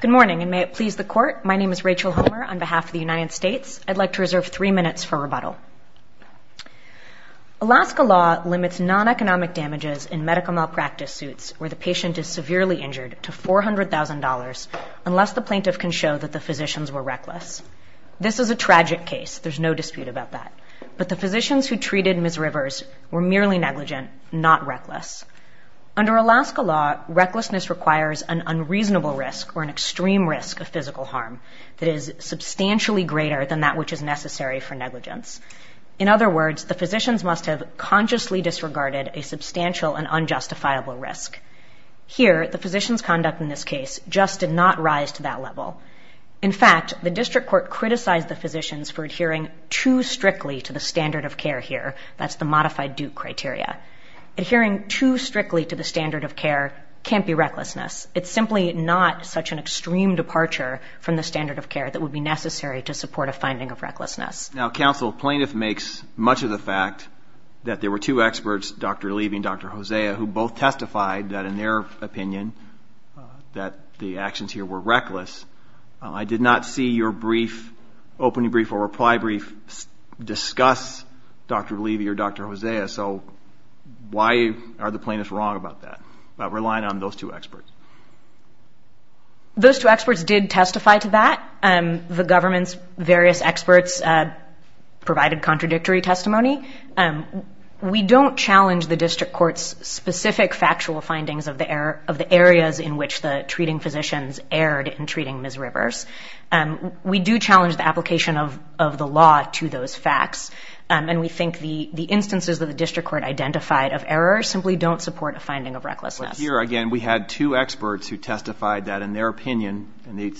Good morning, and may it please the Court, my name is Rachel Homer on behalf of the United States. I'd like to reserve three minutes for rebuttal. Alaska law limits non-economic damages in medical malpractice suits where the patient is severely injured to $400,000 unless the plaintiff can show that the physicians were reckless. This is a tragic case, there's no dispute about that, but the physicians who treated Ms. Rivers were merely negligent, not reckless. Under Alaska law, recklessness requires an unreasonable risk or an extreme risk of physical harm that is substantially greater than that which is necessary for negligence. In other words, the physicians must have consciously disregarded a substantial and unjustifiable risk. Here, the physicians' conduct in this case just did not rise to that level. In fact, the District Court criticized the physicians for adhering too strictly to the standard of care here, that's the modified Duke criteria. Adhering too strictly to the standard of care can't be recklessness. It's simply not such an extreme departure from the standard of care that would be necessary to support a finding of recklessness. Now, counsel, plaintiff makes much of the fact that there were two experts, Dr. Levy and Dr. Hosea, who both testified that in their opinion that the actions here were reckless. I did not see your brief, opening brief or reply brief, discuss Dr. Levy or Dr. Hosea, so why are the plaintiffs wrong about that, about relying on those two experts? Those two experts did testify to that. The government's various experts provided contradictory testimony. We don't challenge the District Court's specific factual findings of the areas in which the treating physicians erred in treating Ms. Rivers. We do challenge the application of the law to those facts, and we think the instances that the District Court identified of error simply don't support a finding of recklessness. But here, again, we had two experts who testified that in their opinion, and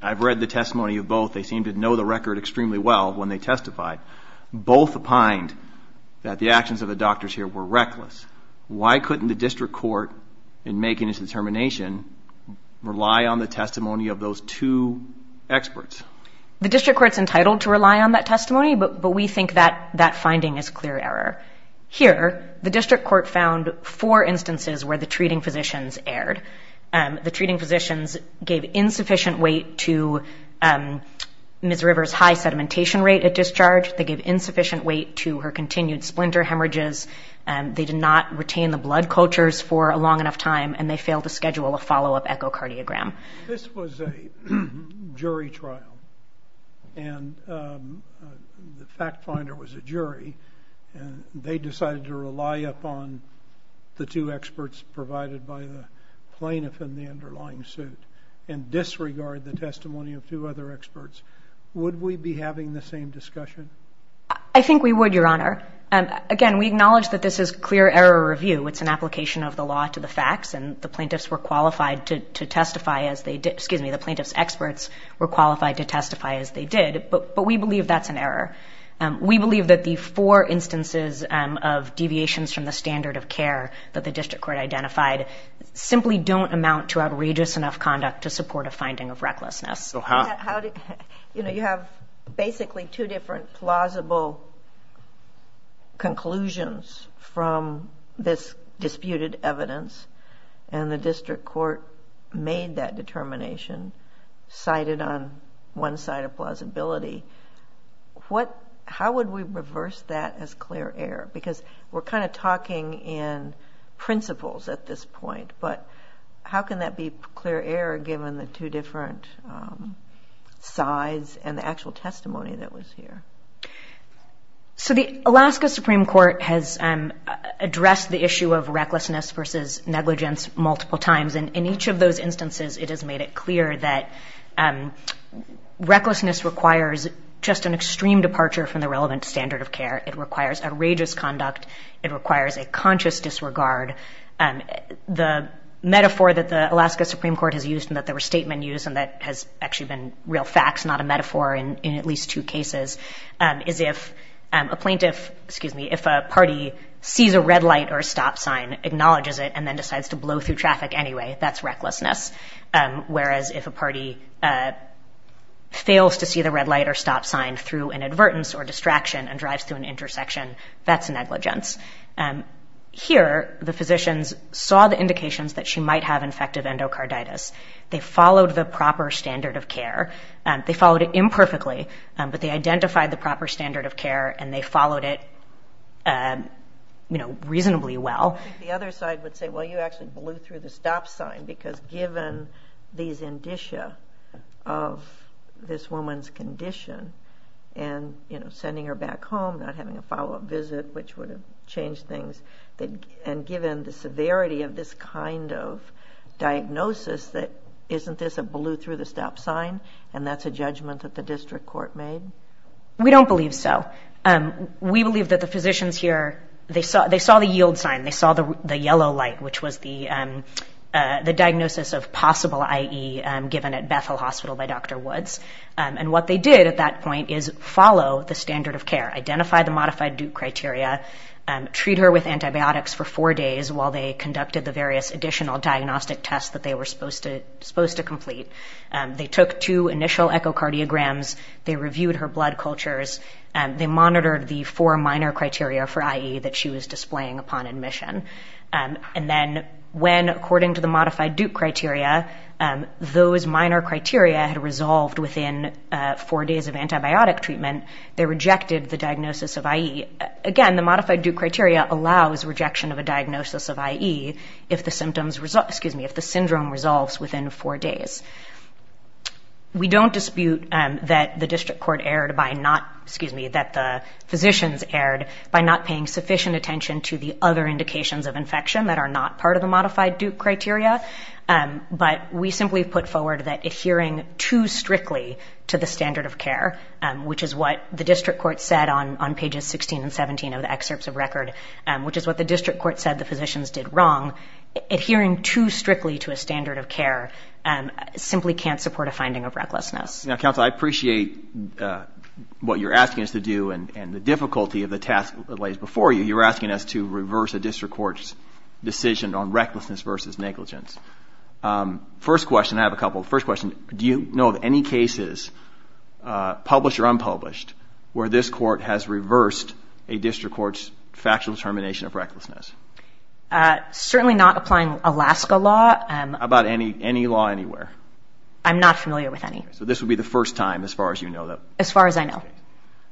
I've read the testimony of both, they seemed to know the record extremely well when they testified. Both opined that the actions of the doctors here were reckless. Why couldn't the District Court, in making its determination, rely on the testimony of those two experts? The District Court's entitled to rely on that testimony, but we think that finding is clear error. Here, the District Court found four instances where the treating physicians erred. The treating physicians gave insufficient weight to Ms. Rivers' high sedimentation rate at discharge. They gave insufficient weight to her continued splinter hemorrhages. They did not retain the blood cultures for a long enough time, and they failed to schedule a follow-up echocardiogram. This was a jury trial, and the fact finder was a jury, and they decided to rely upon the two experts provided by the plaintiff in the underlying suit and disregard the testimony of two other experts. Would we be having the same discussion? I think we would, Your Honor. Again, we acknowledge that this is clear error review. It's an application of the law to the facts, and the plaintiffs were qualified to testify as they did. Excuse me, the plaintiff's experts were qualified to testify as they did, but we believe that's an error. We believe that the four instances of deviations from the standard of care that the District Court identified simply don't amount to outrageous enough conduct to support a finding of recklessness. You know, you have basically two different plausible conclusions from this disputed evidence, and the District Court made that determination, cited on one side of plausibility. How would we reverse that as clear error? Because we're kind of talking in principles at this point, but how can that be clear error given the two different sides and the actual testimony that was here? So the Alaska Supreme Court has addressed the issue of recklessness versus negligence multiple times, and in each of those instances it has made it clear that recklessness requires just an extreme departure from the relevant standard of care. It requires outrageous conduct. It requires a conscious disregard. The metaphor that the Alaska Supreme Court has used and that there were statements used and that has actually been real facts, not a metaphor, in at least two cases, is if a plaintiff, excuse me, if a party sees a red light or a stop sign, acknowledges it, and then decides to blow through traffic anyway, that's recklessness. Whereas if a party fails to see the red light or stop sign through an advertence or distraction and drives through an intersection, that's negligence. Here, the physicians saw the indications that she might have infective endocarditis. They followed the proper standard of care. They followed it imperfectly, but they identified the proper standard of care, and they followed it, you know, reasonably well. I think the other side would say, well, you actually blew through the stop sign because given these indicia of this woman's condition and, you know, sending her back home, not having a follow-up visit, which would have changed things, and given the severity of this kind of diagnosis, that isn't this a blew-through-the-stop sign, and that's a judgment that the district court made? We don't believe so. We believe that the physicians here, they saw the yield sign. They saw the diagnosis of possible IE given at Bethel Hospital by Dr. Woods, and what they did at that point is follow the standard of care, identify the modified Duke criteria, treat her with antibiotics for four days while they conducted the various additional diagnostic tests that they were supposed to complete. They took two initial echocardiograms. They reviewed her blood cultures. They monitored the four minor criteria for IE that she was on. Those minor criteria had resolved within four days of antibiotic treatment. They rejected the diagnosis of IE. Again, the modified Duke criteria allows rejection of a diagnosis of IE if the syndrome resolves within four days. We don't dispute that the district court erred by not, excuse me, that the physicians erred by not paying sufficient attention to the other indications of infection that are not part of the modified Duke criteria, but we simply put forward that adhering too strictly to the standard of care, which is what the district court said on pages 16 and 17 of the excerpts of record, which is what the district court said the physicians did wrong, adhering too strictly to a standard of care simply can't support a finding of recklessness. Now, counsel, I appreciate what you're asking us to do and the difficulty of the task that we're on, recklessness versus negligence. First question, I have a couple. First question, do you know of any cases, published or unpublished, where this court has reversed a district court's factual determination of recklessness? Certainly not applying Alaska law. About any law anywhere? I'm not familiar with any. So this would be the first time, as far as you know. As far as I know.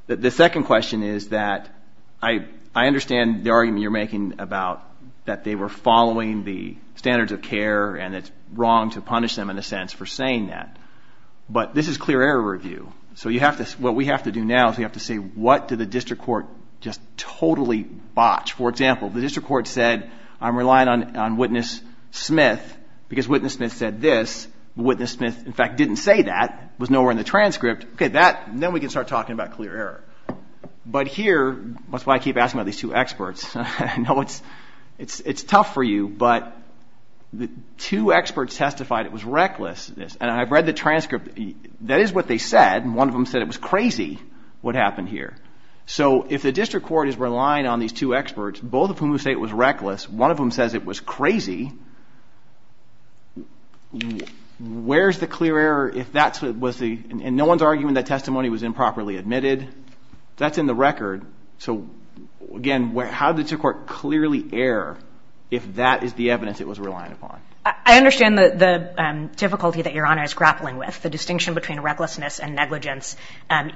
The second question is that I understand the argument you're making about that they were following the standards of care and it's wrong to punish them, in a sense, for saying that. But this is clear error review. So what we have to do now is we have to say what did the district court just totally botch. For example, the district court said, I'm relying on witness Smith, because witness Smith said this. Witness Smith, in fact, didn't say that, was nowhere in the transcript. Okay, then we can start talking about clear error. But here, that's why I keep asking about these two experts. I know it's tough for you, but the two experts testified it was recklessness. And I've read the transcript. That is what they said. One of them said it was crazy what happened here. So if the district court is relying on these two experts, both of whom say it was reckless, one of them says it was crazy, where's the clear error if that was the, and no one's arguing that testimony was that's in the record. So again, how did the court clearly err if that is the evidence it was relying upon? I understand the difficulty that Your Honor is grappling with. The distinction between recklessness and negligence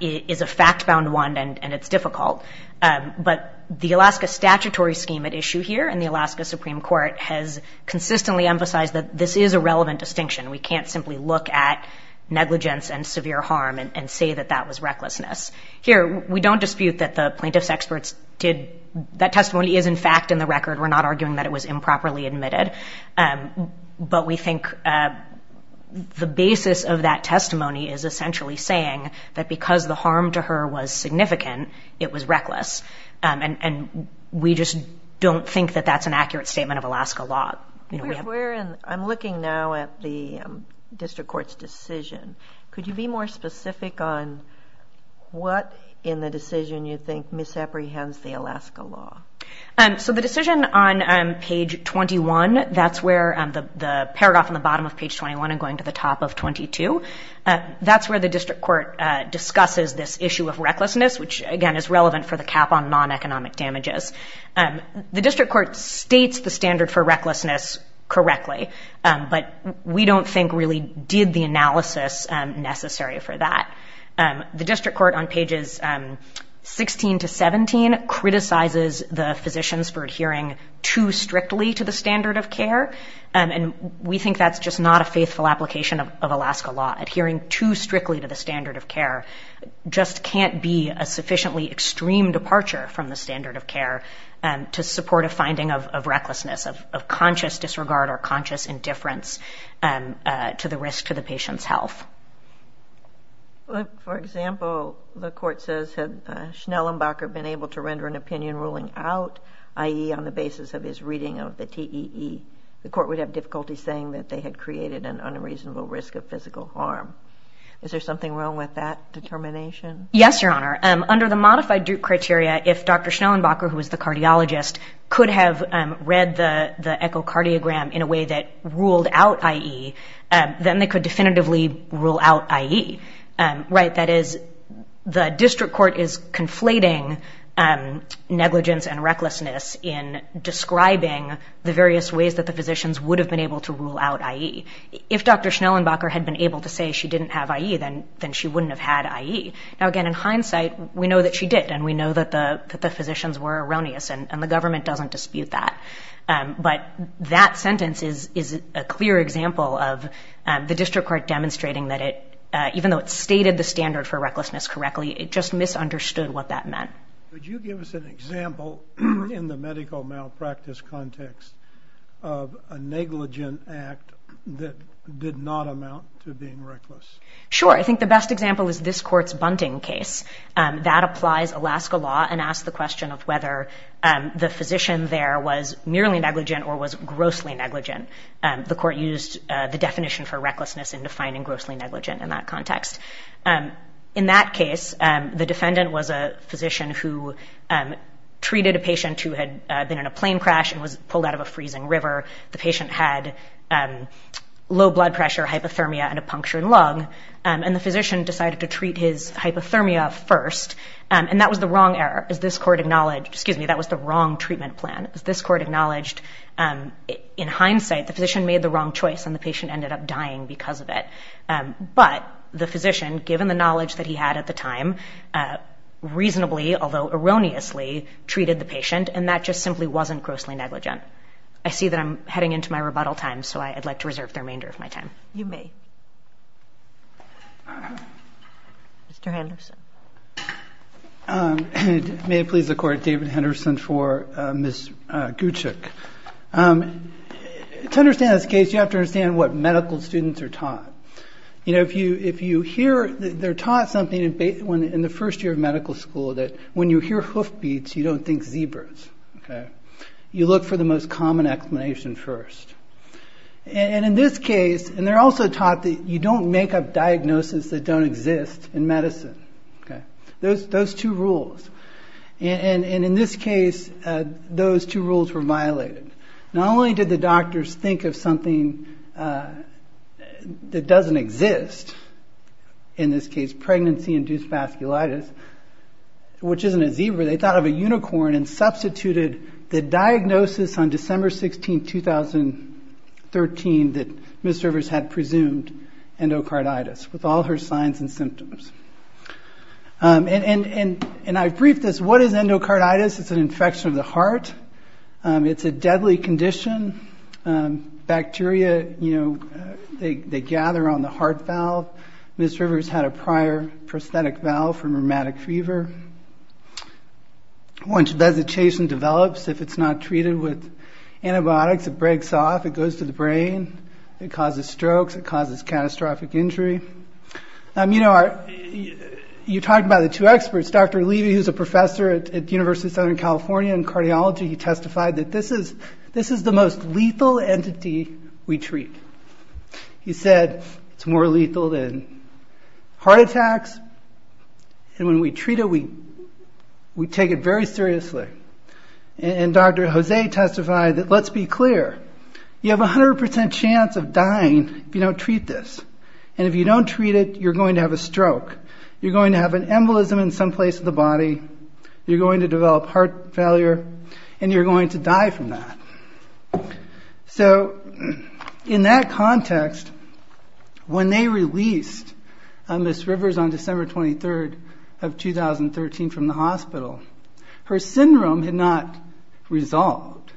is a fact bound one and it's difficult. But the Alaska statutory scheme at issue here and the Alaska Supreme Court has consistently emphasized that this is a relevant distinction. We can't simply look at negligence and severe harm and say that that was recklessness. Here, we don't dispute that the plaintiff's experts did, that testimony is in fact in the record. We're not arguing that it was improperly admitted. But we think the basis of that testimony is essentially saying that because the harm to her was significant, it was reckless. And we just don't think that that's an accurate statement of Alaska law. I'm looking now at the district court's decision. Could you be more specific on what in the decision you think misapprehends the Alaska law? So the decision on page 21, that's where the paragraph on the bottom of page 21 and going to the top of 22, that's where the district court discusses this issue of recklessness, which again is relevant for the cap on non-economic damages. The district court states the standard for recklessness correctly, but we don't think really did the analysis necessary for that. The district court on pages 16 to 17 criticizes the physicians for adhering too strictly to the standard of care. And we think that's just not a faithful application of Alaska law. Adhering too strictly to the standard of care just can't be a sufficiently extreme departure from the standard of care to support a finding of recklessness, of conscious disregard or conscious indifference to the risk to the patient's health. For example, the court says, had Schnellenbacher been able to render an opinion ruling out, i.e. on the basis of his reading of the TEE, the court would have difficulty saying that they had created an unreasonable risk of physical harm. Is there something wrong with that determination? Yes, Your Honor. Under the modified Duke criteria, if Dr. Schnellenbacher, who was the cardiologist, could have read the echocardiogram in a way that ruled out IE, then they could definitively rule out IE. That is, the district court is conflating negligence and recklessness in describing the various ways that the physicians would have been able to rule out IE. If Dr. Schnellenbacher had been able to say she didn't have IE, then she wouldn't have had IE. Now again, in hindsight, we know that she did, and we know that the physicians were erroneous, and the government doesn't dispute that. But that sentence is a clear example of the district court demonstrating that it, even though it stated the standard for recklessness correctly, it just misunderstood what that meant. Could you give us an example in the medical malpractice context of a negligent act that did not amount to being reckless? Sure. I think the best example is this court's Bunting case. That applies Alaska law and asks the question of whether the physician there was merely negligent or was grossly negligent. The court used the definition for recklessness in defining grossly negligent in that context. In that case, the defendant was a physician who treated a patient who had been in a plane crash and was pulled out of a freezing river. The patient had low blood pressure, hypothermia, and a punctured lung, and the physician decided to treat his hypothermia first. That was the wrong treatment plan. This court acknowledged in hindsight the physician made the wrong choice and the patient ended up dying because of it. But the physician, given the knowledge that he had at the time, reasonably, although erroneously, treated the patient, and that just simply wasn't grossly negligent. I see that I'm heading into my rebuttal time, so I'd like to reserve the remainder of my time. You may. Mr. Henderson. May it please the Court, David Henderson for Ms. Gucic. To understand this case, you have to understand what medical students are taught. You know, if you hear that they're taught something in the first year of medical school, that when you hear hoofbeats, you don't think zebras. You look for the most common explanation first. They're also taught that you don't make up diagnoses that don't exist in medicine. Those two rules. In this case, those two rules were violated. Not only did the doctors think of something that doesn't exist, in this case pregnancy-induced vasculitis, which isn't a zebra, they thought of a unicorn and substituted the diagnosis on December 16, 2013 that Ms. Rivers had presumed, endocarditis, with all her signs and symptoms. And I briefed this, what is endocarditis? It's an infection of the heart. It's a deadly condition. Bacteria, you know, they gather on the heart valve. Ms. Rivers had a prior prosthetic valve for rheumatic fever. Once vegetation develops, if it's not treated with antibiotics, it breaks off, it goes to the brain, it causes strokes, it causes catastrophic injury. You know, you talked about the two experts. Dr. Levy, who's a professor at the is the most lethal entity we treat. He said it's more lethal than heart attacks, and when we treat it, we take it very seriously. And Dr. Jose testified that, let's be clear, you have 100% chance of dying if you don't treat this. And if you don't treat it, you're going to have a stroke. You're going to have an embolism in some place in the body. You're going to develop heart failure, and you're going to die from that. So in that context, when they released Ms. Rivers on December 23rd of 2013 from the hospital, her syndrome had not resolved.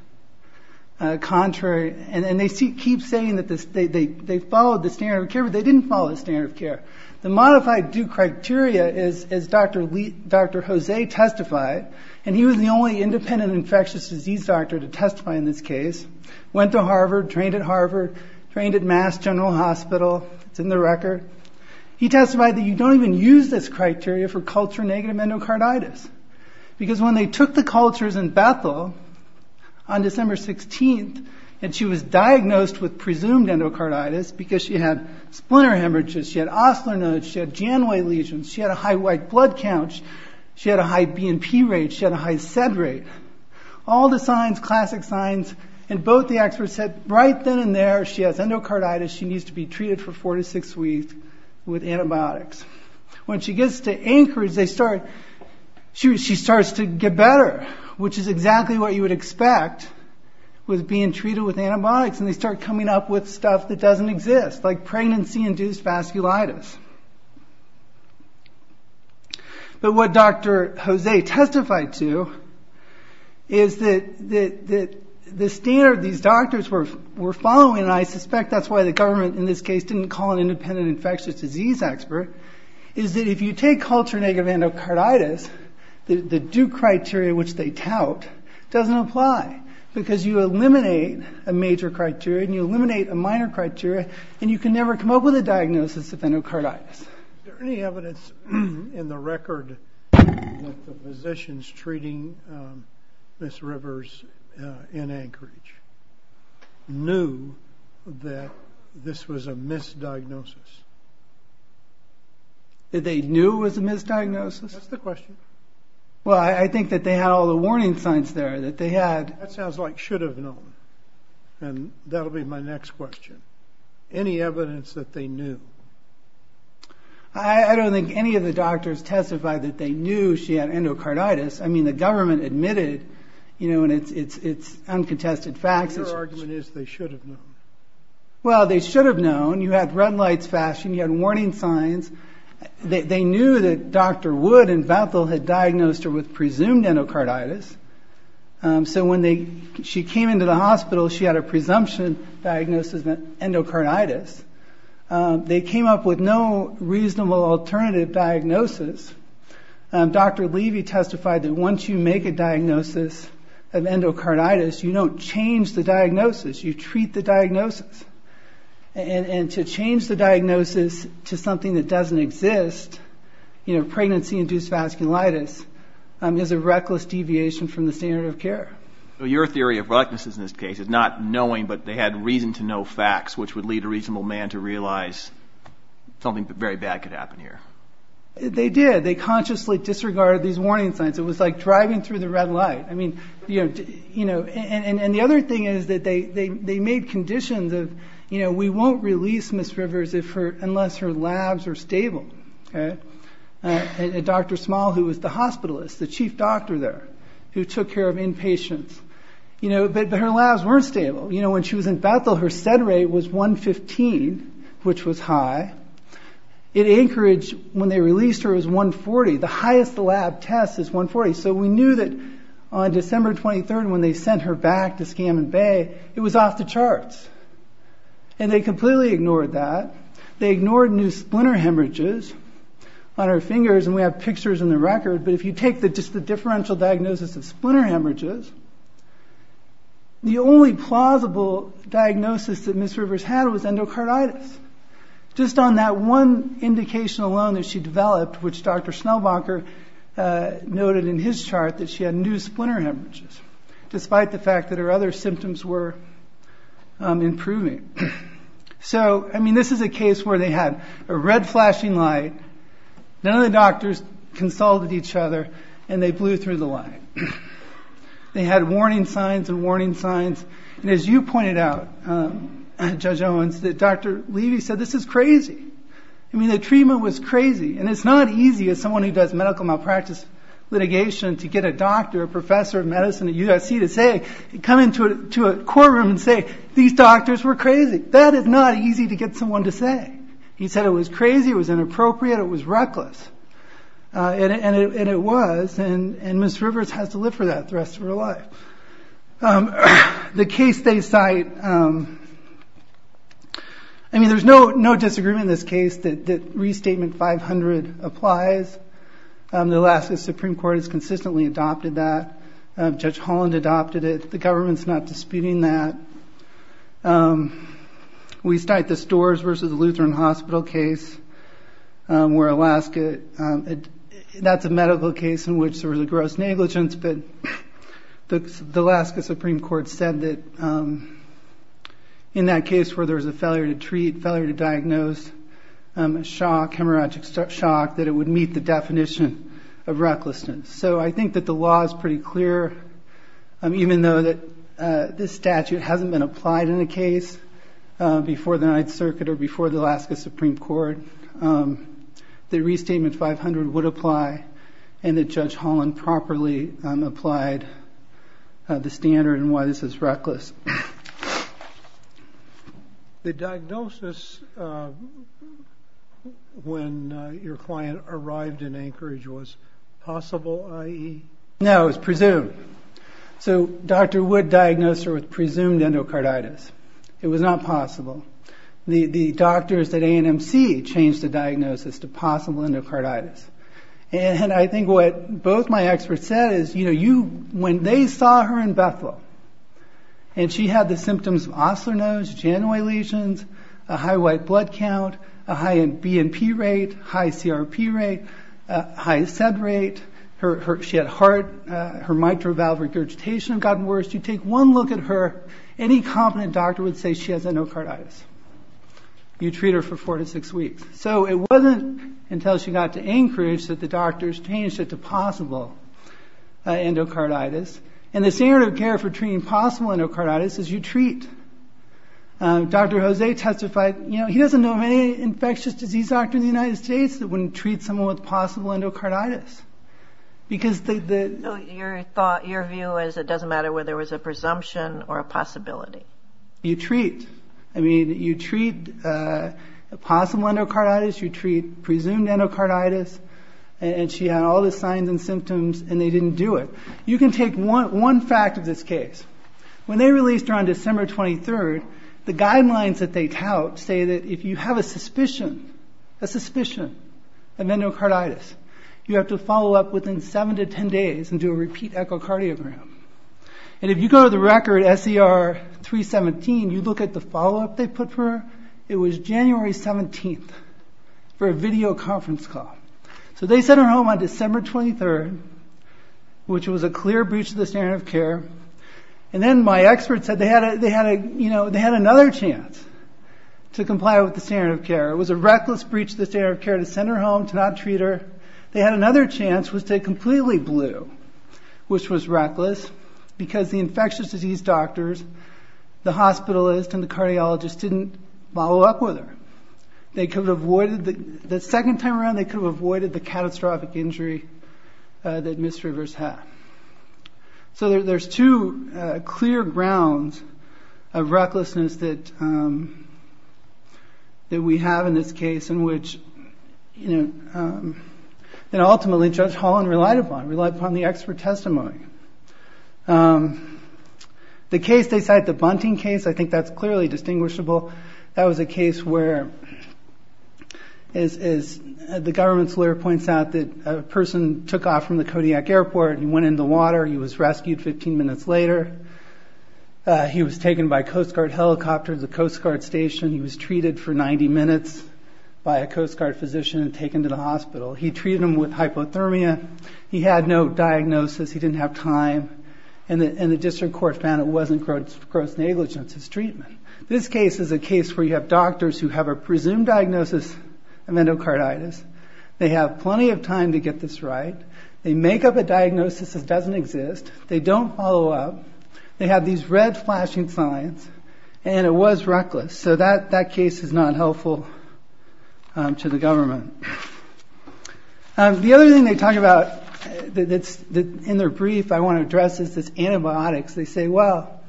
Contrary, and they keep saying that they followed the standard of care, but they didn't follow the standard of care. The modified due criteria, as Dr. Jose testified, and he was the only independent infectious disease doctor to testify in this case, went to Harvard, trained at Harvard, trained at Mass General Hospital, it's in the record. He testified that you don't even use this criteria for culture-negative endocarditis. Because when they took the cultures in Bethel on December 16th, and she was diagnosed with presumed endocarditis because she had splinter hemorrhages, she had osteo nodes, she had a high white blood count, she had a high BNP rate, she had a high SED rate. All the signs, classic signs, and both the experts said right then and there she has endocarditis, she needs to be treated for four to six weeks with antibiotics. When she gets to Anchorage, she starts to get better, which is exactly what you would expect with being treated with antibiotics, and they start coming up with stuff that doesn't exist, like pregnancy-induced vasculitis. But what Dr. Jose testified to is that the standard these doctors were following, and I suspect that's why the government in this case didn't call an independent infectious disease expert, is that if you take culture-negative endocarditis, the Duke criteria which they tout doesn't apply, because you eliminate a major criteria, and you eliminate a minor criteria, and you can never come up with a diagnosis of endocarditis. Is there any evidence in the record that the physicians treating Ms. Rivers in Anchorage knew that this was a misdiagnosis? That they knew it was a misdiagnosis? That's the question. Well, I think that they had all the warning signs there, that they had... That sounds like should have known, and that'll be my next question. Any evidence that they knew? I don't think any of the doctors testified that they knew she had endocarditis. I mean, the government admitted, and it's uncontested fact... Your argument is they should have known. Well, they should have known. You had red lights flashing, you had warning signs. They knew that Dr. Wood and Bethel had diagnosed her with presumed endocarditis, so when she came into the hospital, she had a presumption diagnosis of endocarditis. They came up with no reasonable alternative diagnosis. Dr. Levy testified that once you make a diagnosis of endocarditis, you don't change the diagnosis, you treat the diagnosis. And to change the diagnosis, pregnancy-induced vasculitis is a reckless deviation from the standard of care. Your theory of recklessness in this case is not knowing, but they had reason to know facts which would lead a reasonable man to realize something very bad could happen here. They did. They consciously disregarded these warning signs. It was like driving through the red light. And the other thing is that they made conditions of, we won't release Ms. Rivers unless her labs are stable. Dr. Small, who was the hospitalist, the chief doctor there, who took care of inpatients. But her labs weren't stable. When she was in Bethel, her SED rate was 115, which was high. In Anchorage, when they released her, it was 140. The highest lab test is 140. So we knew that on December 23rd, when they sent her back to Scammon Bay, it was off the charts. And they completely ignored that. They ignored new splinter hemorrhages on her fingers, and we have pictures in the record, but if you take just the differential diagnosis of splinter hemorrhages, the only plausible diagnosis that Ms. Rivers had was endocarditis. Just on that one indication alone that she developed, which Dr. Schnellbacher noted in his chart, that she had new splinter hemorrhages, despite the fact that her other symptoms were improving. So, I mean, this is a case where they had a red flashing light, none of the doctors consulted each other, and they blew through the light. They had warning signs and warning signs, and as you pointed out, Judge Owens, that Dr. Levy said, this is crazy. I mean, the treatment was crazy, and it's not easy as someone who does medical malpractice litigation to get a doctor, a professor of medicine at a hospital, to come into a courtroom and say, these doctors were crazy. That is not easy to get someone to say. He said it was crazy, it was inappropriate, it was reckless. And it was, and Ms. Rivers has to live for that the rest of her life. The case they cite, I mean, there's no disagreement in this case that Restatement 500 applies. The Alaska Supreme Court has consistently adopted that. Judge Holland adopted it. The government's not disputing that. We cite the Storrs versus Lutheran Hospital case, where Alaska, that's a medical case in which there was a gross negligence, but the Alaska Supreme Court said that in that case where there was a failure to treat, failure to diagnose, shock, hemorrhagic shock, that it would meet the definition of recklessness. So I think that the law is pretty clear, even though that this statute hasn't been applied in a case before the Ninth Circuit or before the Alaska Supreme Court. The Restatement 500 would apply, and that Judge Holland properly applied the standard in why this is reckless. The diagnosis when your client arrived in Anchorage was possible, i.e.? No, it was presumed. So Dr. Wood diagnosed her with presumed endocarditis. It was not possible. The doctors at A&MC changed the diagnosis to possible endocarditis. And I think what both my experts said is when they saw her in Bethel, and she had the symptoms of Osler nose, January lesions, a high white blood count, a high BNP rate, a high CRP rate, a high SED rate, she had heart, her mitral valve regurgitation had gotten worse. You take one look at her, any competent doctor would say she has endocarditis. You treat possible endocarditis. And the standard of care for treating possible endocarditis is you treat. Dr. Jose testified, he doesn't know of any infectious disease doctor in the United States that wouldn't treat someone with possible endocarditis. Your view is it doesn't matter whether it was a presumption or a possibility. You treat. You treat possible endocarditis. You had all the signs and symptoms and they didn't do it. You can take one fact of this case. When they released her on December 23rd, the guidelines that they tout say that if you have a suspicion, a suspicion of endocarditis, you have to follow up within seven to ten days and do a repeat echocardiogram. And if you go to the record, SER 317, you look at the follow-up they put for her. It was January 17th for a video conference call. So they sent her home on December 23rd, which was a clear breach of the standard of care. And then my expert said they had another chance to comply with the standard of care. It was a reckless breach of the standard of care to send her home, to not treat her. They had another chance, which was to completely blue, which was reckless because the infectious disease doctors, the hospitalist and the cardiologist didn't follow up with her. The second time around they could have avoided the catastrophic injury that Ms. Rivers had. So there's two clear grounds of recklessness that we have in this case in which ultimately Judge Holland relied upon, relied upon the expert testimony. The case they cite, the Bunting case, I think that's clearly distinguishable. That was a case where, as the government's lawyer points out, that a person took off from the Kodiak airport and went in the water. He was rescued 15 minutes later. He was taken by Coast Guard helicopters, a Coast Guard station. He was treated for 90 minutes by a Coast Guard physician and taken to the hospital. He treated him with hypothermia. He had no diagnosis. He didn't have time. And the district court found it wasn't gross negligence. It's treatment. This case is a case where you have doctors who have a presumed diagnosis of endocarditis. They have plenty of time to get this right. They make up a diagnosis that doesn't exist. They don't follow up. They have these red flashing signs. And it was reckless. So that case is not helpful to the government. The other thing they talk about that's in their brief, I want to address, is this antibiotics. They say, well,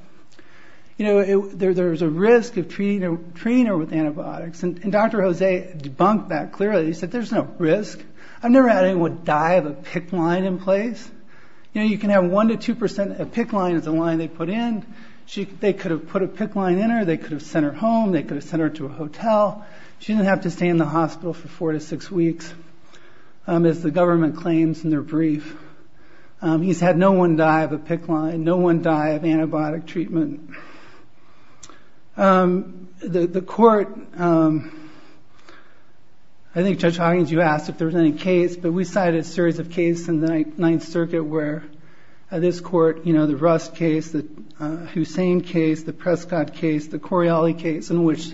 there's a risk of treating her with antibiotics. And Dr. Jose debunked that clearly. He said, there's no risk. I've never had anyone die of a PICC line in place. You can have 1% to 2%. A PICC line is a line they put in. They could have put a PICC line in her. They could have sent her home. They could have sent her to a hotel. She didn't have to stay in the hospital for four to six weeks, as the government claims in their brief. He's had no one die of a PICC line. No one die of antibiotic treatment. The court, I think Judge Hawkins, you asked if there was any case. But we cited a series of cases in the Ninth Circuit where this court, the Rust case, the Hussein case, the Prescott case, the Coriolis case, in which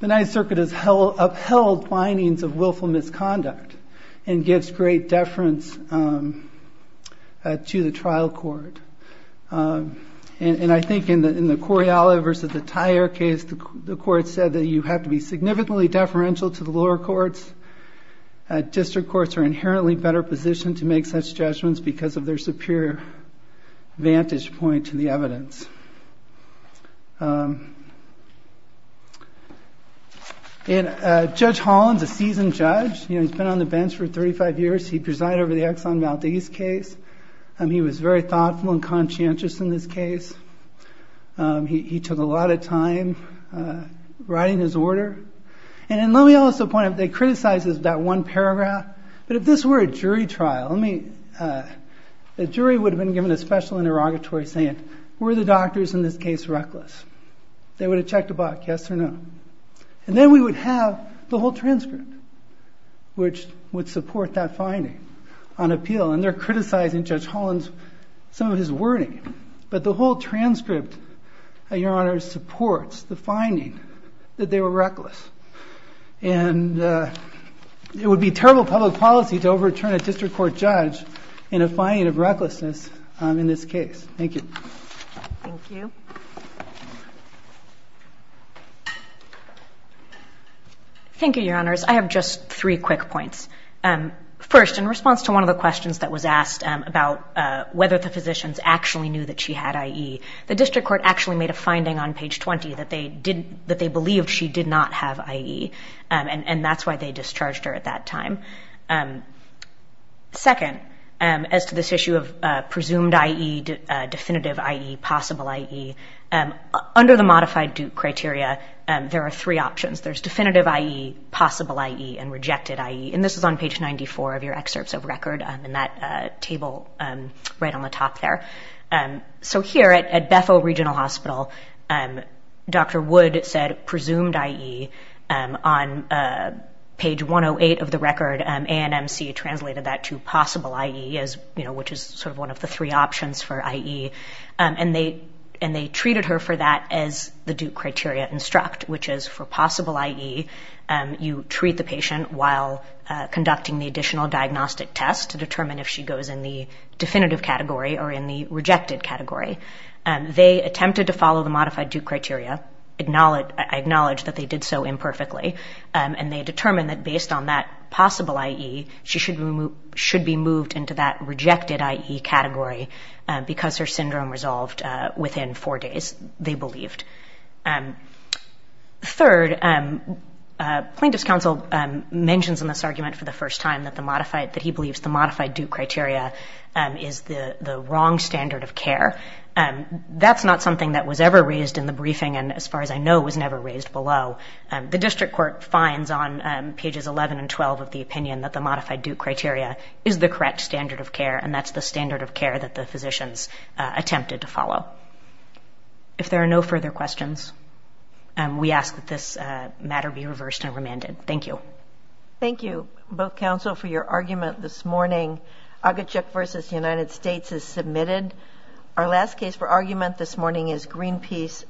the Ninth Circuit has upheld findings of willful misconduct and gives great deference to the trial court. And I think in the Coriolis versus the Tyer case, the court said that you have to be significantly deferential to the lower courts. District courts are inherently better positioned to make such judgments because of their superior vantage point to the evidence. And Judge Holland's a seasoned judge. He's been on the bench for 35 years. He presided over the Exxon Valdez case. He was very thoughtful and conscientious in this case. He took a lot of time writing his order. And let me also point out, they criticized that one paragraph. But if this were a jury trial, the jury would have been given a special interrogatory stand. Were the doctors in this case reckless? They would have checked a buck, yes or no. And then we would have the whole transcript, which would support that finding on appeal. And they're criticizing Judge Holland's, some of his wording. But the whole transcript, Your Honor, supports the finding that they were reckless. And it would be terrible public policy to overturn a district court judge in a finding of recklessness in this case. Thank you. Thank you. Thank you, Your Honors. I have just three quick points. First, in response to one of the questions that was asked about whether the physicians actually knew that she had IE, the district court actually made a finding on page 20 that they believed she did not have IE. And that's they discharged her at that time. Second, as to this issue of presumed IE, definitive IE, possible IE, under the modified Duke criteria, there are three options. There's definitive IE, possible IE, and rejected IE. And this is on page 94 of your excerpts of record in that table right on the top there. So here at Bethel Regional Hospital, Dr. Wood said presumed IE on page 108 of the record. A&MC translated that to possible IE, which is sort of one of the three options for IE. And they treated her for that as the Duke criteria instruct, which is for possible IE, you treat the patient while conducting the additional diagnostic test to determine if she goes in the definitive category or in the rejected category. They attempted to follow the modified Duke criteria, acknowledged that they did so imperfectly. And they determined that based on that possible IE, she should be moved into that rejected IE category because her syndrome resolved within four days, they believed. Third, plaintiff's counsel mentions in this argument for the first time that the modified, that he believes the modified Duke criteria is the wrong standard of care. That's not something that was ever raised in the briefing, and as far as I know, was never raised below. The district court finds on pages 11 and 12 of the opinion that the modified Duke criteria is the correct standard of care, and that's the standard of care that the physicians attempted to follow. If there are no further questions, we ask that this matter be reversed and remanded. Thank you. Thank you, both counsel, for your argument this morning. Agachek v. United States is submitted. Our last case for argument this morning is Greenpeace.